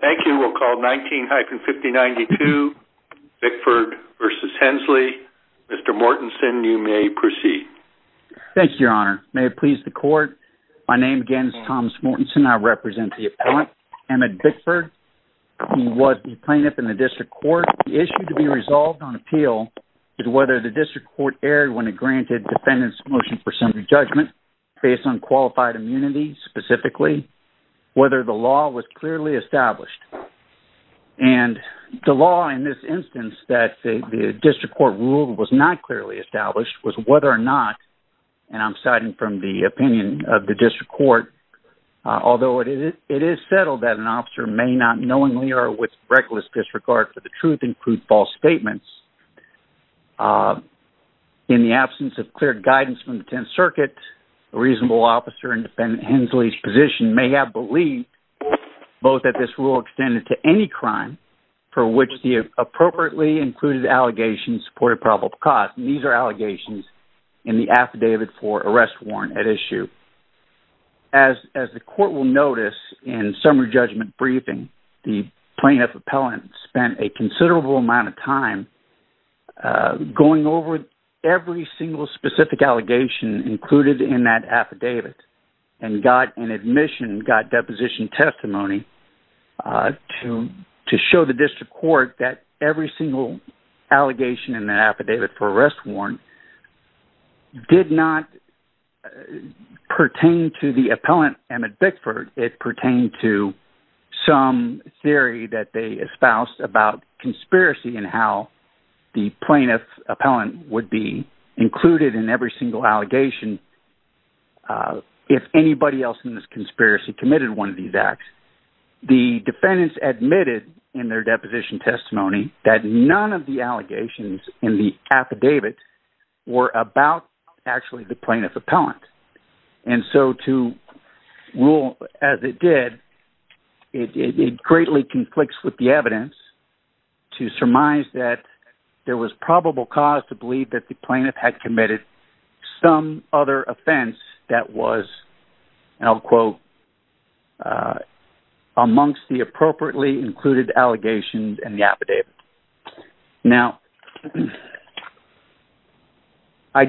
Thank you. We'll call 19-5092 Bickford v. Hensley. Mr. Mortensen, you may proceed. Thank you, Your Honor. May it please the Court, my name again is Thomas Mortensen. I represent the appellant, Emmett Bickford. He was the plaintiff in the District Court. The issue to be resolved on appeal is whether the District Court erred when it granted Defendant's Motion for Assembly Judgment based on qualified immunity specifically, whether the law was clearly established. And the law in this instance that the District Court ruled was not clearly established was whether or not, and I'm citing from the opinion of the District Court, although it is settled that an officer may not knowingly or with reckless disregard for the truth include false statements. In the absence of clear guidance from the Tenth Circuit, a reasonable officer in Defendant Hensley's position may have believed both that this rule extended to any crime for which the appropriately included allegations supported probable cause. And these are allegations in the Affidavit for Arrest Warrant at issue. As the Court will notice in summary judgment briefing, the plaintiff appellant spent a considerable amount of time going over every single specific allegation included in that affidavit and got an admission, got deposition testimony to show the District Court that every single allegation in the Affidavit for Arrest Warrant did not pertain to the appellant, Emmett Bickford. It pertained to some theory that they espoused about conspiracy and how the plaintiff appellant would be included in every single allegation if anybody else in this conspiracy committed one of these acts. The defendants admitted in their deposition testimony that none of the allegations in the affidavit were about actually the plaintiff appellant. And so to rule as it did, it greatly conflicts with the evidence to surmise that there was probable cause to believe that the plaintiff had committed some other offense that was, and I'll quote, amongst the appropriately included allegations in the affidavit. Now, I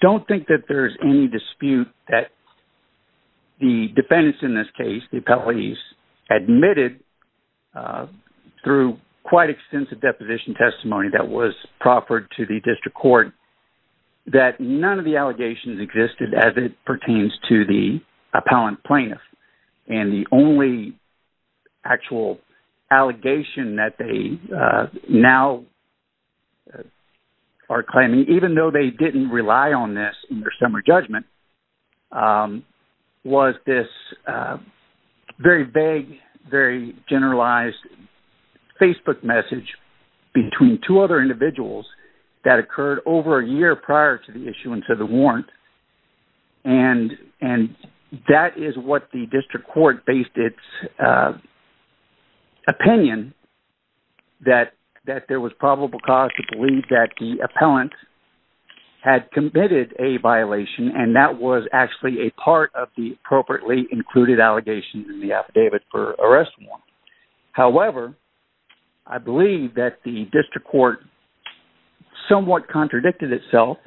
don't think that there's any dispute that the defendants in this case, the appellees, admitted through quite extensive deposition testimony that was proffered to the District Court that none of the allegations existed as it pertains to the appellant plaintiff. And the only actual allegation that they now are claiming, even though they didn't rely on this in their summer judgment, was this very vague, very generalized Facebook message between two other individuals that occurred over a year prior to the issuance of the warrant. And that is what the District Court based its opinion that there was probable cause to believe that the appellant had committed a violation and that was actually a part of the appropriately included allegations in the affidavit for arrest warrant. However, I believe that the District Court somewhat contradicted itself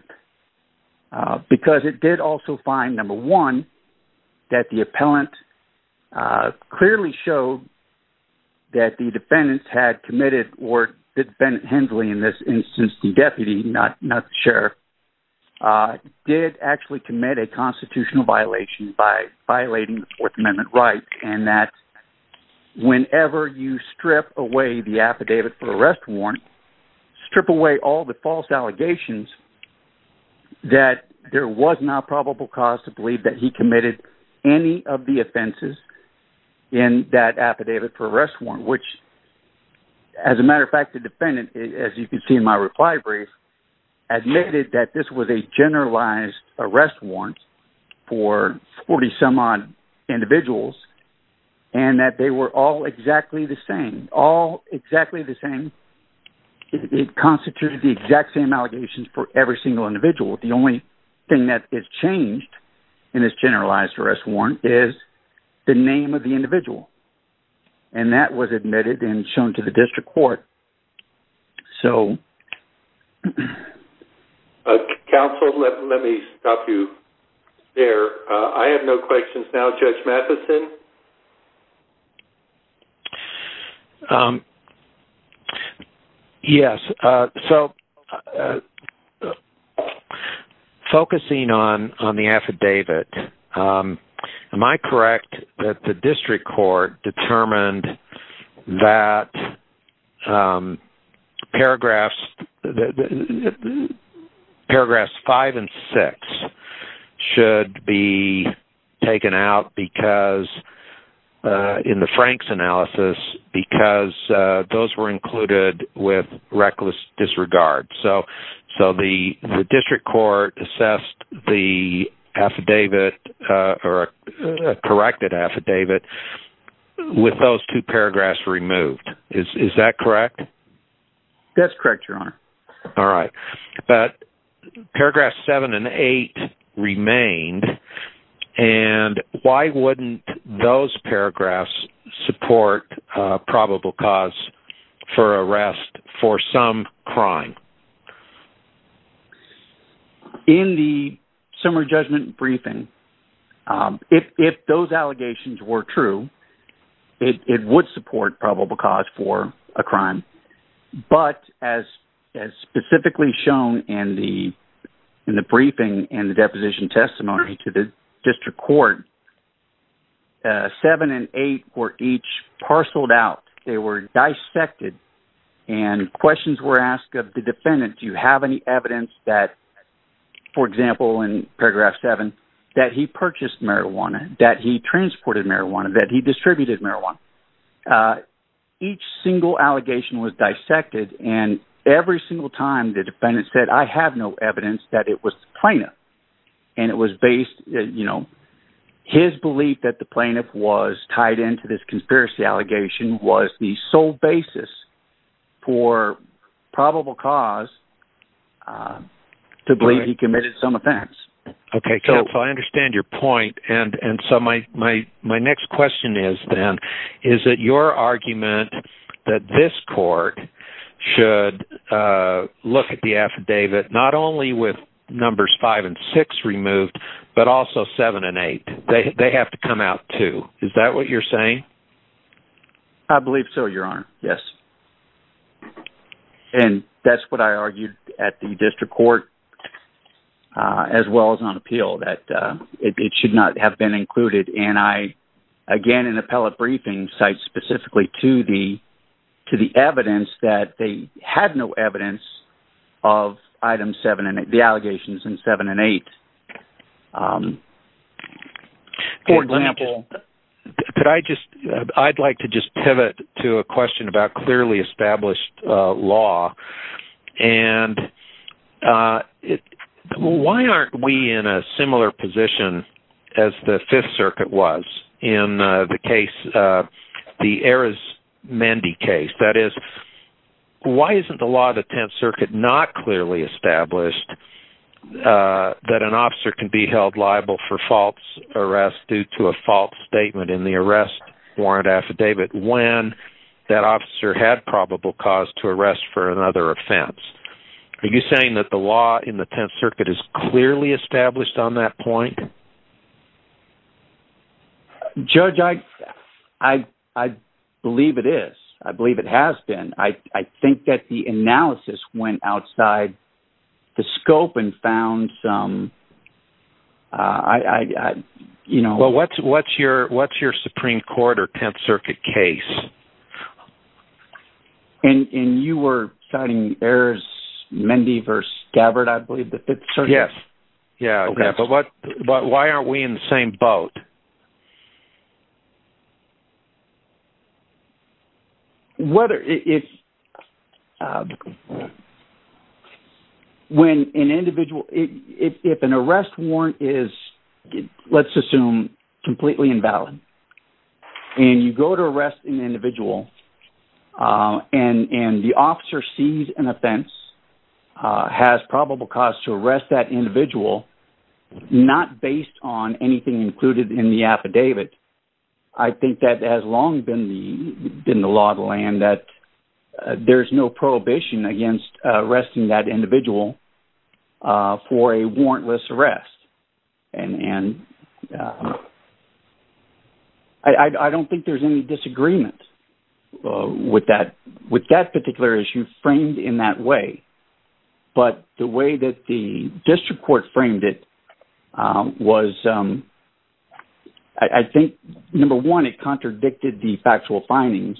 because it did also find, number one, that the appellant clearly showed that the defendants had committed, or the defendant, Hensley, in this instance, the deputy, not the sheriff, did actually commit a constitutional violation by violating the Fourth Amendment right, and that whenever you strip away the affidavit for arrest warrant, strip away all the false allegations that there was not probable cause to believe that he committed any of the offenses in that affidavit for arrest warrant. Which, as a matter of fact, the defendant, as you can see in my reply brief, admitted that this was a generalized arrest warrant for 40-some-odd individuals and that they were all exactly the same, all exactly the same. It constituted the exact same allegations for every single individual. The only thing that is changed in this generalized arrest warrant is the name of the individual. And that was admitted and shown to the District Court. So... I have no questions now. Judge Matheson? Yes. So, focusing on the affidavit, am I correct that the District Court determined that paragraphs 5 and 6 should be taken out because, in the Frank's analysis, because those were included with reckless disregard? So, the District Court assessed the affidavit or corrected affidavit with those two paragraphs removed. Is that correct? That's correct, Your Honor. All right. But paragraphs 7 and 8 remained. And why wouldn't those paragraphs support probable cause for arrest for some crime? In the summary judgment briefing, if those allegations were true, it would support probable cause for a crime. But as specifically shown in the briefing and the deposition testimony to the District Court, 7 and 8 were each parceled out. They were dissected and questions were asked of the defendant. Do you have any evidence that, for example, in paragraph 7, that he purchased marijuana, that he transported marijuana, that he distributed marijuana? Each single allegation was dissected. And every single time, the defendant said, I have no evidence that it was the plaintiff. And it was based... His belief that the plaintiff was tied into this conspiracy allegation was the sole basis for probable cause to believe he committed some offense. Okay. So, I understand your point. And so, my next question is then, is it your argument that this court should look at the affidavit not only with numbers 5 and 6 removed, but also 7 and 8? They have to come out too. Is that what you're saying? I believe so, Your Honor. Yes. And that's what I argued at the District Court as well as on appeal, that it should not have been included. And I, again, in appellate briefing, cite specifically to the evidence that they had no evidence of the allegations in 7 and 8. For example, could I just... I'd like to just pivot to a question about clearly established law. And why aren't we in a similar position as the Fifth Circuit was in the case, the Ares-Mendi case? That is, why isn't the law of the Tenth Circuit not clearly established that an officer can be held liable for false arrest due to a false statement in the arrest warrant affidavit when that officer had probable cause to arrest for another offense? Are you saying that the law in the Tenth Circuit is clearly established on that point? Judge, I believe it is. I believe it has been. I think that the analysis went outside the scope and found some... Well, what's your Supreme Court or Tenth Circuit case? And you were citing Ares-Mendi v. Gabbard, I believe, the Fifth Circuit? Yes. Yeah. Okay. But why aren't we in the same boat? Okay. Whether it's... When an individual... If an arrest warrant is, let's assume, completely invalid and you go to arrest an individual and the officer sees an offense, has probable cause to arrest that in the affidavit, I think that has long been the law of the land that there's no prohibition against arresting that individual for a warrantless arrest. And I don't think there's any disagreement with that particular issue framed in that way. But the way that the I think, number one, it contradicted the factual findings.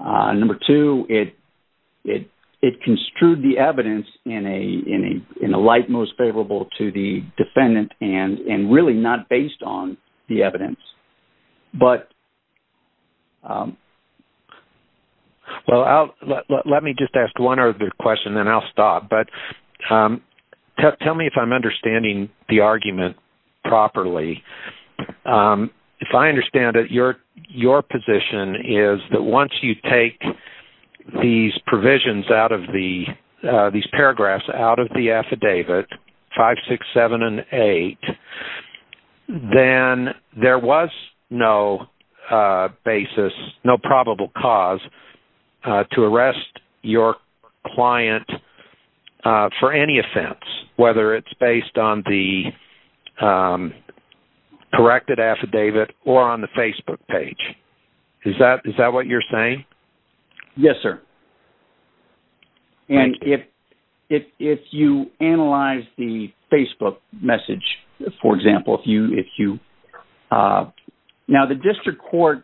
Number two, it construed the evidence in a light most favorable to the defendant and really not based on the evidence. But... Well, let me just ask one other question, then I'll stop. But tell me if I'm understanding the argument properly. If I understand it, your position is that once you take these provisions out of the... These paragraphs out of the affidavit, 5, 6, 7, and 8, then there was no basis, no probable cause to arrest your client for any offense, whether it's based on the corrected affidavit or on the Facebook page. Is that what you're saying? Yes, sir. And if you analyze the Facebook message, for example, if you... Now, the district court,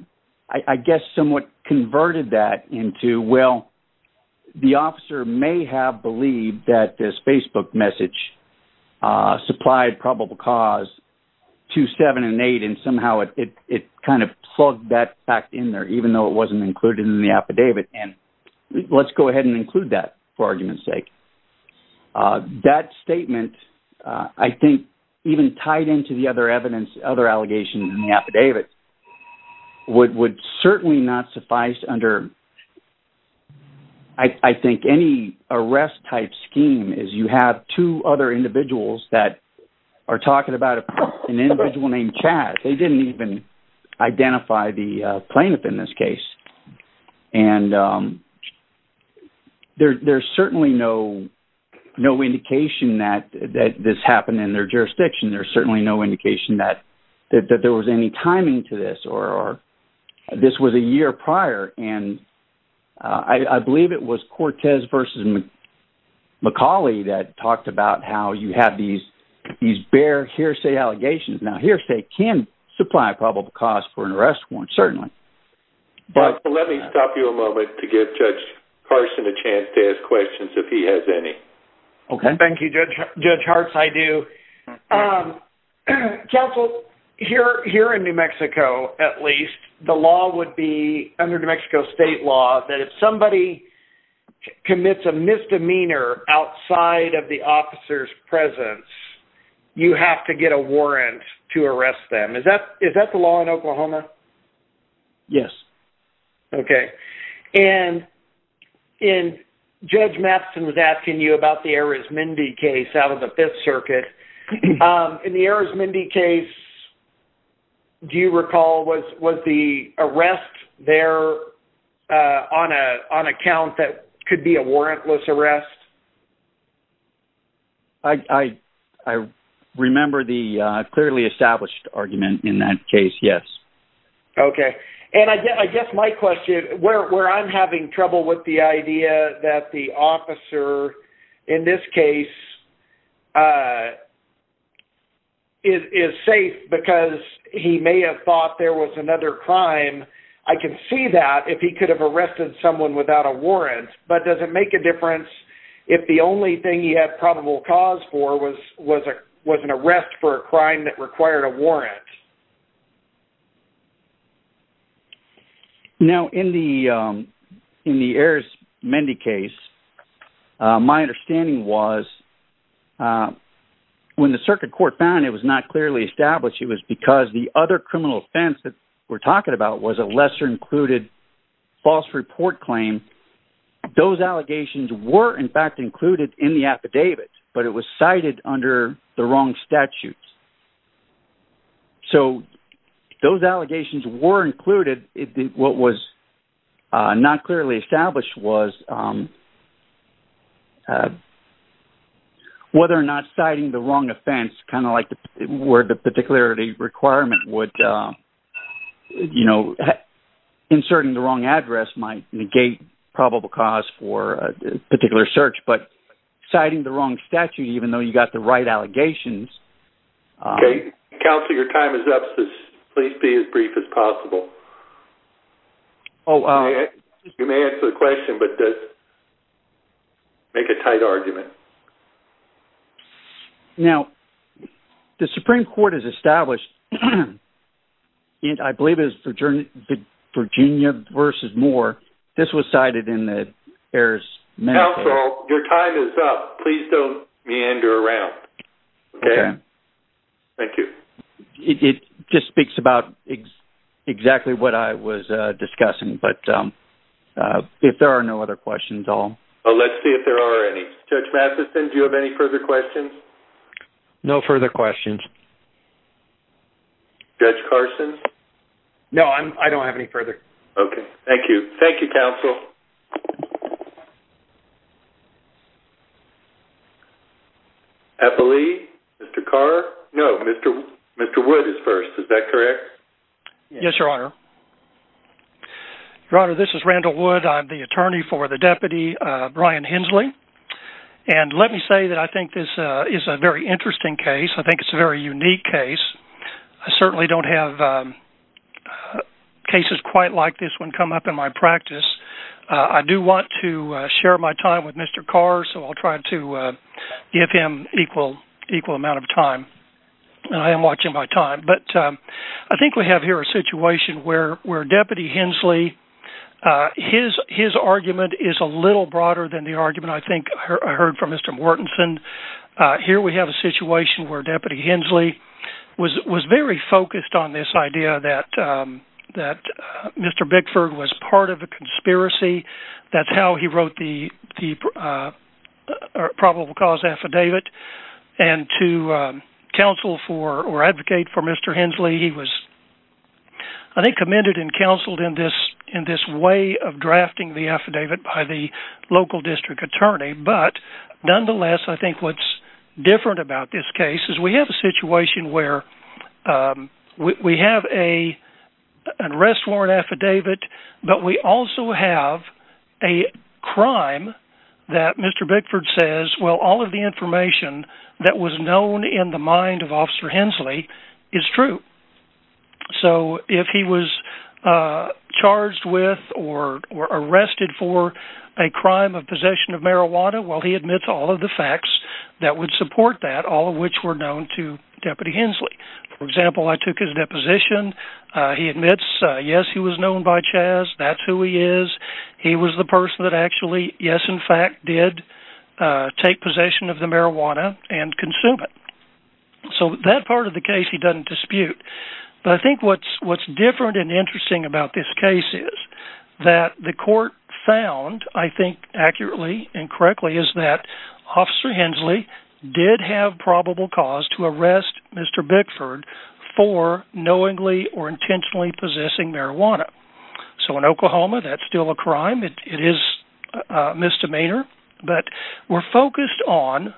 I guess, somewhat converted that into, well, the officer may have believed that this Facebook message supplied probable cause to 7 and 8, and somehow it kind of plugged that fact in there, even though it wasn't included in the affidavit. And let's go ahead and include that for argument's sake. That statement, I think, even tied into the other evidence, other allegations in the affidavit, would certainly not suffice under, I think, any arrest type scheme is you have two other an individual named Chad. They didn't even identify the plaintiff in this case. And there's certainly no indication that this happened in their jurisdiction. There's certainly no indication that there was any timing to this or this was a year prior. And I believe it was Now, hearsay can supply probable cause for an arrest warrant, certainly. Let me stop you a moment to give Judge Carson a chance to ask questions if he has any. Okay. Thank you, Judge Harts. I do. Counsel, here in New Mexico, at least, the law would be under New Mexico state law that if commits a misdemeanor outside of the officer's presence, you have to get a warrant to arrest them. Is that is that the law in Oklahoma? Yes. Okay. And in Judge Matheson was asking you about the Arizmendi case out of the Fifth Circuit. In the Arizmendi case, do you recall was the arrest there on account that could be a warrantless arrest? I remember the clearly established argument in that case. Yes. Okay. And I guess my question where I'm having trouble with the idea that the officer in this case is safe because he may have thought there was another crime. I can see that if he could have arrested someone without a warrant. But does it make a difference if the only thing you have probable cause for was an arrest for a crime that required a warrant? Yes. Now, in the Arizmendi case, my understanding was when the circuit court found it was not clearly established, it was because the other criminal offense that we're talking about was a lesser included false report claim. Those allegations were, in fact, included in the those allegations were included. What was not clearly established was whether or not citing the wrong offense, kind of like where the particularity requirement would, you know, inserting the wrong address might negate probable cause for a particular search, but citing the wrong statute, even though you got the right allegations. Okay. Counselor, your time is up. Please be as brief as possible. You may answer the question, but make a tight argument. Now, the Supreme Court has established, I believe it was Virginia versus Moore, this was cited in the Arizmendi case. Counselor, your time is up. Please don't Okay. Thank you. It just speaks about exactly what I was discussing, but if there are no other questions, I'll... Oh, let's see if there are any. Judge Matheson, do you have any further questions? No further questions. Judge Carson? No, I don't have any further. Okay. Thank you. Thank you, Counsel. I believe Mr. Carr... No, Mr. Wood is first. Is that correct? Yes, Your Honor. Your Honor, this is Randall Wood. I'm the attorney for the deputy, Brian Hensley. And let me say that I think this is a very interesting case. I think it's a very unique case. I certainly don't have cases quite like this one come up in my practice. I do want to share my time with Mr. Carr, so I'll try to give him equal amount of time. And I am watching my time. But I think we have here a situation where Deputy Hensley, his argument is a little broader than the argument I think I heard from Mr. Mortenson. Here we have a situation where Deputy Hensley was very focused on this idea that Mr. Bickford was part of a conspiracy. That's how he wrote the probable cause affidavit. And to counsel for or advocate for Mr. Hensley, he was, I think, commended and counseled in this way of drafting the affidavit by the local district attorney. But nonetheless, I think what's different about this case is we have a situation where we have an arrest warrant affidavit, but we also have a crime that Mr. Bickford says, well, all of the information that was known in the mind of Officer Hensley is true. So if he was charged with or arrested for a crime of possession of marijuana, well, he admits all of the facts that would support that, all of which were known to Deputy Hensley. For example, I took his deposition. He admits, yes, he was known by Chaz. That's who he is. He was the person that actually, yes, in fact, did take possession of the marijuana and consume it. So that part of the case, he doesn't dispute. But I think what's different and interesting about this case is that the court found, I think accurately and correctly, is that Officer Hensley did have probable cause to arrest Mr. Bickford for knowingly or intentionally possessing marijuana. So in Oklahoma, that's still a crime. It is misdemeanor. But we're focused on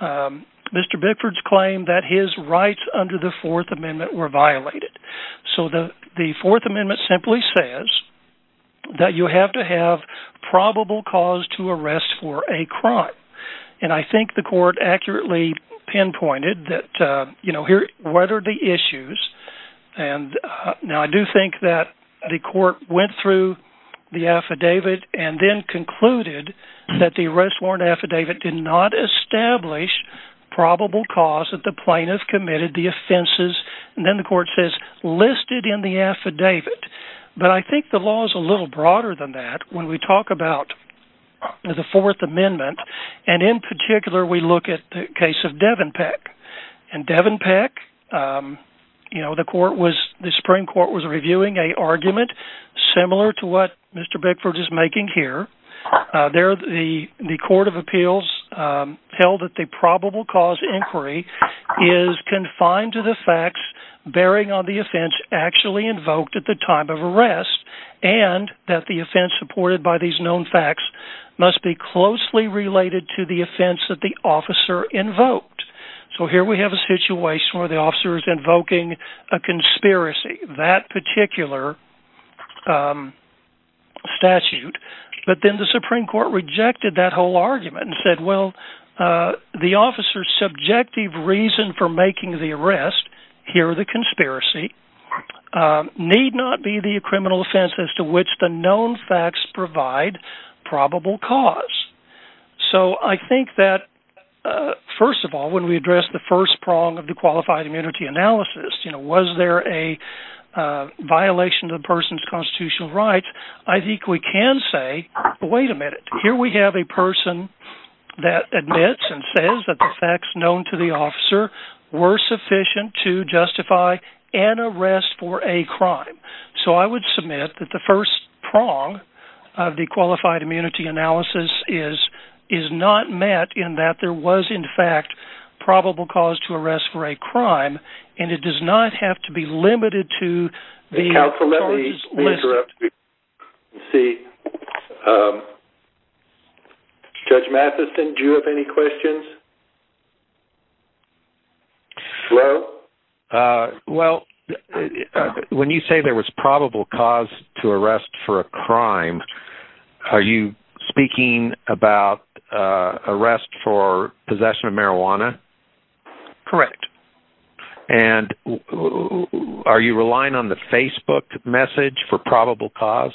Mr. Bickford's claim that his rights under the Fourth Amendment were violated. So the Fourth Amendment simply says that you have to have probable cause to arrest for a crime. And I think the court accurately pinpointed that, you know, here, what are the issues? And now I do think that the court went through the affidavit and then concluded that the arrest warrant affidavit did not establish probable cause that the plaintiff committed the offenses. And then the court says listed in the affidavit. But I think the law is a little broader than that when we talk about the Fourth Amendment. And in particular, we look at the case of Devon Peck. And Devon Peck, you know, the Supreme Court was reviewing a argument similar to what Mr. Bickford is making here. There, the Court of Appeals held that the probable cause inquiry is confined to facts bearing on the offense actually invoked at the time of arrest, and that the offense supported by these known facts must be closely related to the offense that the officer invoked. So here we have a situation where the officer is invoking a conspiracy, that particular statute. But then the Supreme Court rejected that whole argument and said, well, the officer's subjective reason for making the arrest, here the conspiracy, need not be the criminal offense as to which the known facts provide probable cause. So I think that, first of all, when we address the first prong of the qualified immunity analysis, you know, was there a violation of the person's constitutional rights? I think we can say, wait a minute, here we have a person that admits and says that the facts known to the officer were sufficient to justify an arrest for a crime. So I would submit that the first prong of the qualified immunity analysis is not met in that there was, in fact, probable cause to arrest for a crime, and it does not have to be limited to the charges listed. Let's see. Judge Matheson, do you have any questions? Well, when you say there was probable cause to arrest for a crime, are you speaking about arrest for possession of marijuana? Correct. And are you relying on the Facebook message for probable cause?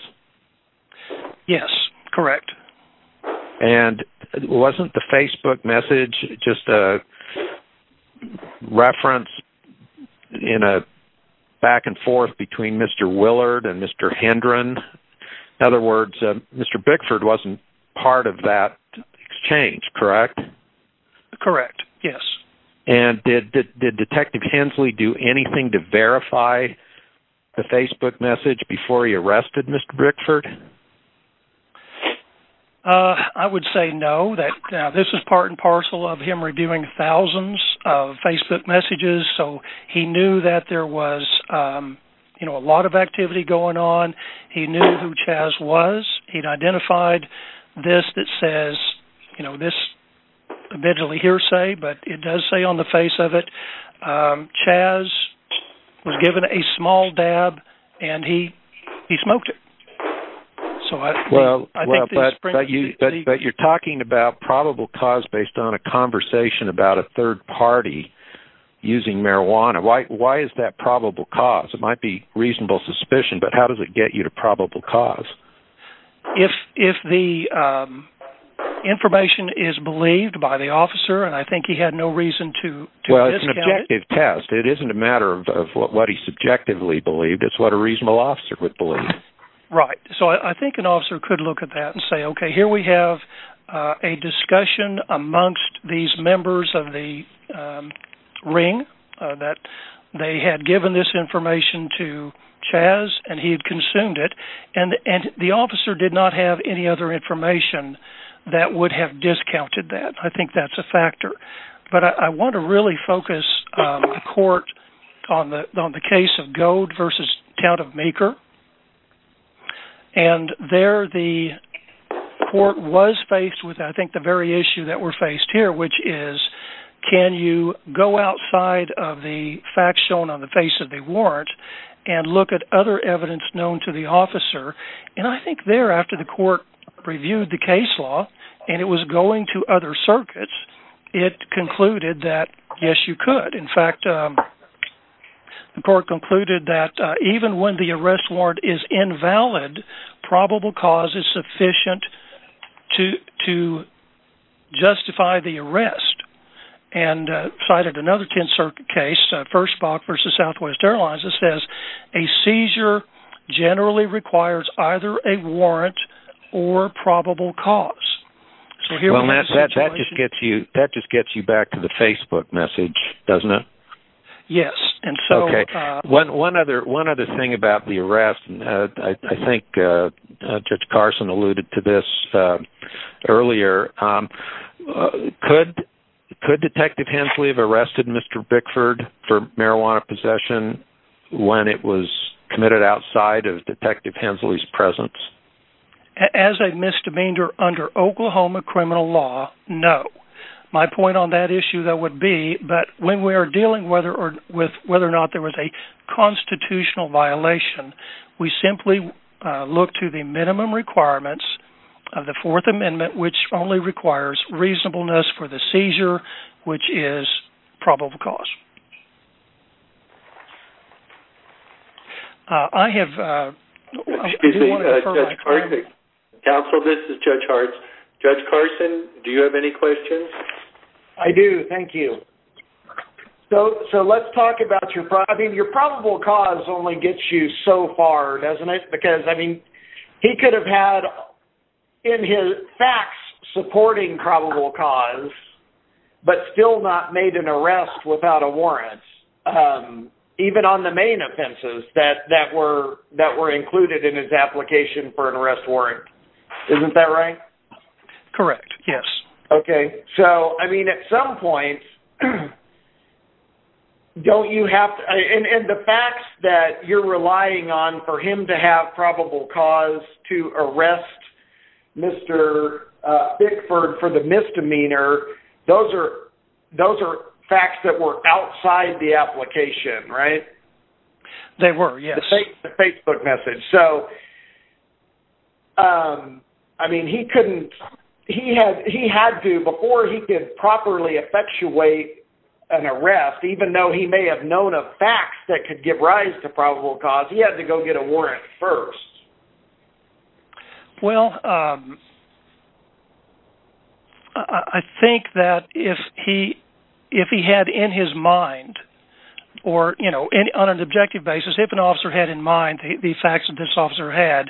Yes, correct. And wasn't the Facebook message just a reference in a back and forth between Mr. Willard and Mr. Hendron? In other words, Mr. Bickford wasn't part of that exchange, correct? Correct. Yes. And did Detective Hensley do anything to verify the Facebook message before he arrested Mr. Bickford? I would say no, that this is part and parcel of him reviewing thousands of Facebook messages. So he knew that there was, you know, a lot of activity going on. He knew who Chaz was. He'd eventually hear say, but it does say on the face of it, Chaz was given a small dab and he smoked it. But you're talking about probable cause based on a conversation about a third party using marijuana. Why is that probable cause? It might be reasonable suspicion, but how does it get you to probable cause? If the information is believed by the officer, and I think he had no reason to... Well, it's an objective test. It isn't a matter of what he subjectively believed. It's what a reasonable officer would believe. Right. So I think an officer could look at that and say, okay, here we have a discussion amongst these members of the ring that they had given this information to Chaz, and he had consumed it. And the officer did not have any other information that would have discounted that. I think that's a factor. But I want to really focus the court on the case of Gould versus Town of Maker. And there the court was faced with, I think, the very issue that we're faced here, which is, can you go outside of the facts shown on the face of the warrant and look at other evidence known to the officer? And I think thereafter, the court reviewed the case law, and it was going to other circuits. It concluded that, yes, you could. In fact, the court concluded that even when the arrest warrant is invalid, probable cause is sufficient to justify the arrest. And cited another 10th Bock versus Southwest Airlines, it says a seizure generally requires either a warrant or probable cause. Well, Matt, that just gets you back to the Facebook message, doesn't it? Yes. Okay. One other thing about the arrest. I think Judge Carson alluded to this earlier. Could Detective Hensley have arrested Mr. Bickford for marijuana possession when it was committed outside of Detective Hensley's presence? As a misdemeanor under Oklahoma criminal law, no. My point on that issue, though, would be that when we are dealing with whether or not there was a constitutional violation, we simply look to the minimum requirements of the Fourth Amendment, which only requires reasonableness for the seizure, which is probable cause. I do want to defer my time. Counsel, this is Judge Hartz. Judge Carson, do you have any questions? I do. Thank you. So let's talk about your probable cause only gets you so far, doesn't it? Because, he could have had, in his facts, supporting probable cause, but still not made an arrest without a warrant, even on the main offenses that were included in his application for an arrest warrant. Isn't that right? Correct. Yes. So, at some point, don't you have to, and the facts that you're relying on for him to have probable cause to arrest Mr. Bickford for the misdemeanor, those are facts that were outside the application, right? They were, yes. The Facebook message. So, I mean, he had to, before he could properly effectuate an arrest, even though he may have known of facts that could give rise to probable cause, he had to go get a warrant first. Well, I think that if he had in his mind, or on an objective basis, if an officer had in mind the facts that this officer had,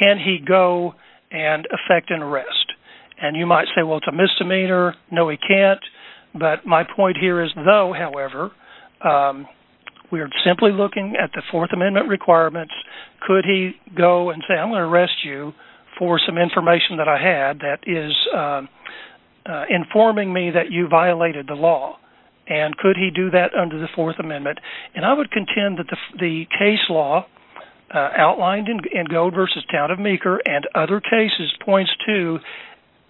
can he go and effect an arrest? And you might say, well, it's a misdemeanor. No, he can't. But my point here is, though, however, we are simply looking at the Fourth Amendment requirements. Could he go and say, I'm going to arrest you for some information that I had that is informing me that you violated the law? And could he do that under the Fourth Amendment? And I would contend that the case law outlined in Gold v. Town of Meeker and other cases points to,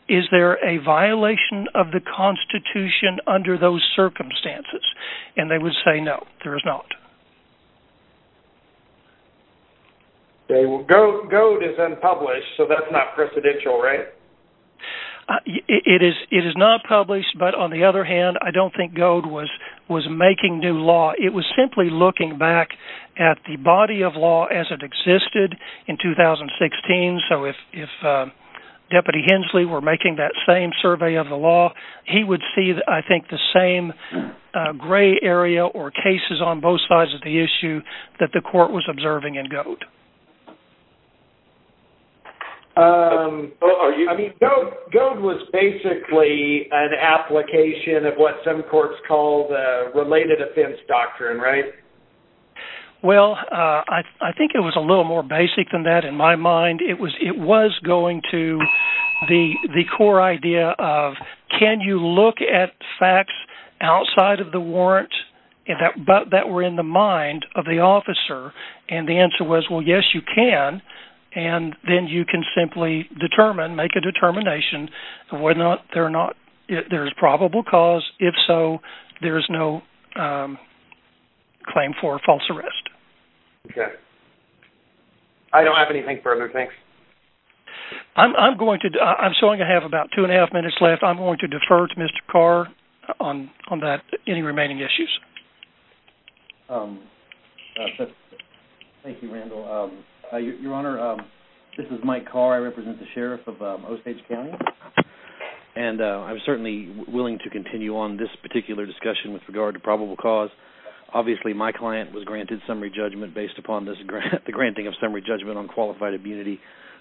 is there a violation of the Constitution under those circumstances? And they would say, no, there is not. Goad is unpublished, so that's not precedential, right? It is not published, but on the other hand, I don't think Goad was making new law. It was simply looking back at the body of law as it existed in 2016. So if Deputy Hensley were making that same survey of the law, he would see, I think, the same gray area or cases on both sides of the issue that the court was observing in Goad. I mean, Goad was basically an application of what some courts call the related offense doctrine, right? Well, I think it was a little more basic than that. In my mind, it was going to the core idea of, can you look at facts outside of the warrant that were in the mind of the officer? And the answer was, well, yes, you can. And then you can simply determine, make a determination whether or not there's probable cause. If so, there is no claim for false arrest. Okay. I don't have anything further, thanks. I'm going to, I'm showing I have about two and a half minutes left. I'm going to defer to Mr. Carr on that, any remaining issues. Thank you, Randall. Your Honor, this is Mike Carr. I represent the on this particular discussion with regard to probable cause. Obviously, my client was granted summary judgment based upon the granting of summary judgment on qualified immunity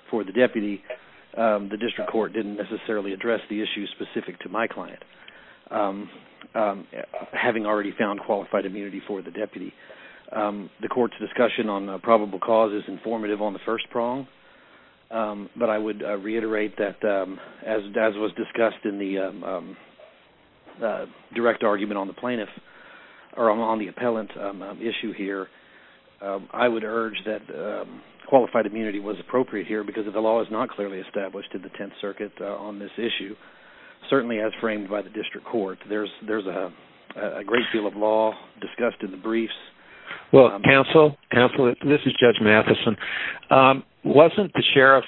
for the deputy. The district court didn't necessarily address the issue specific to my client, having already found qualified immunity for the deputy. The court's discussion on probable cause is informative on the first prong, but I would reiterate that as was discussed in the direct argument on the plaintiff or on the appellant issue here, I would urge that qualified immunity was appropriate here because if the law is not clearly established in the 10th circuit on this issue, certainly as framed by the district court, there's a great deal of law discussed in the briefs. Well, counsel, counsel, this is Judge Matheson. Wasn't the sheriff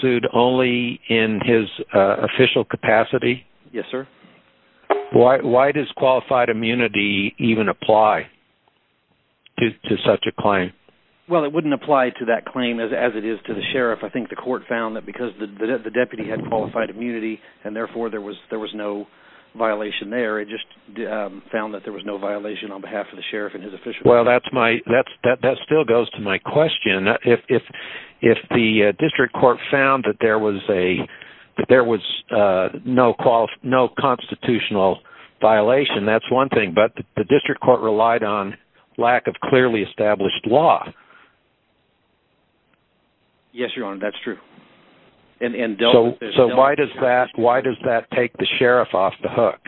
sued only in his official capacity? Yes, sir. Why does qualified immunity even apply to such a claim? Well, it wouldn't apply to that claim as it is to the sheriff. I think the court found that because the deputy had qualified immunity and therefore there was no violation there. It just found that there was no violation on behalf of the sheriff and his client. If the district court found that there was no constitutional violation, that's one thing, but the district court relied on lack of clearly established law. Yes, your honor, that's true. So why does that take the sheriff off the hook?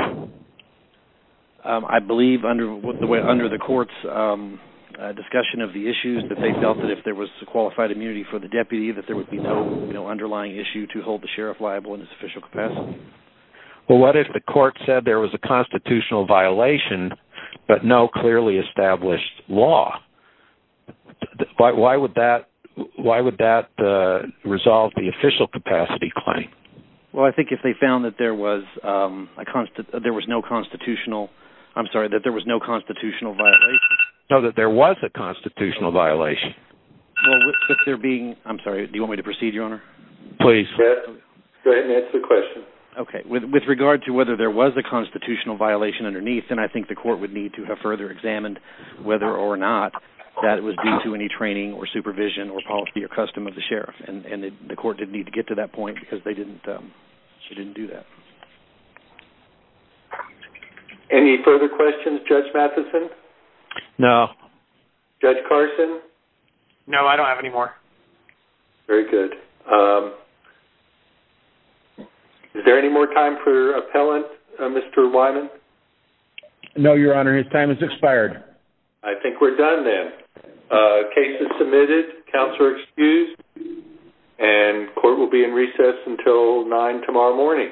I believe under the way, under the court's discussion of the issues that they felt that if there was a qualified immunity for the deputy, that there would be no underlying issue to hold the sheriff liable in his official capacity. Well, what if the court said there was a constitutional violation, but no clearly established law? Why would that resolve the issue? Well, with regard to whether there was a constitutional violation underneath, then I think the court would need to have further examined whether or not that it was due to any training or supervision or policy or custom of the sheriff. And the court didn't need to Any further questions? Judge Matheson? No. Judge Carson? No, I don't have any more. Very good. Is there any more time for appellant, Mr. Wyman? No, your honor, his time has expired. I think we're done then. Case is submitted. Counts are excused and court will be in recess until nine tomorrow morning.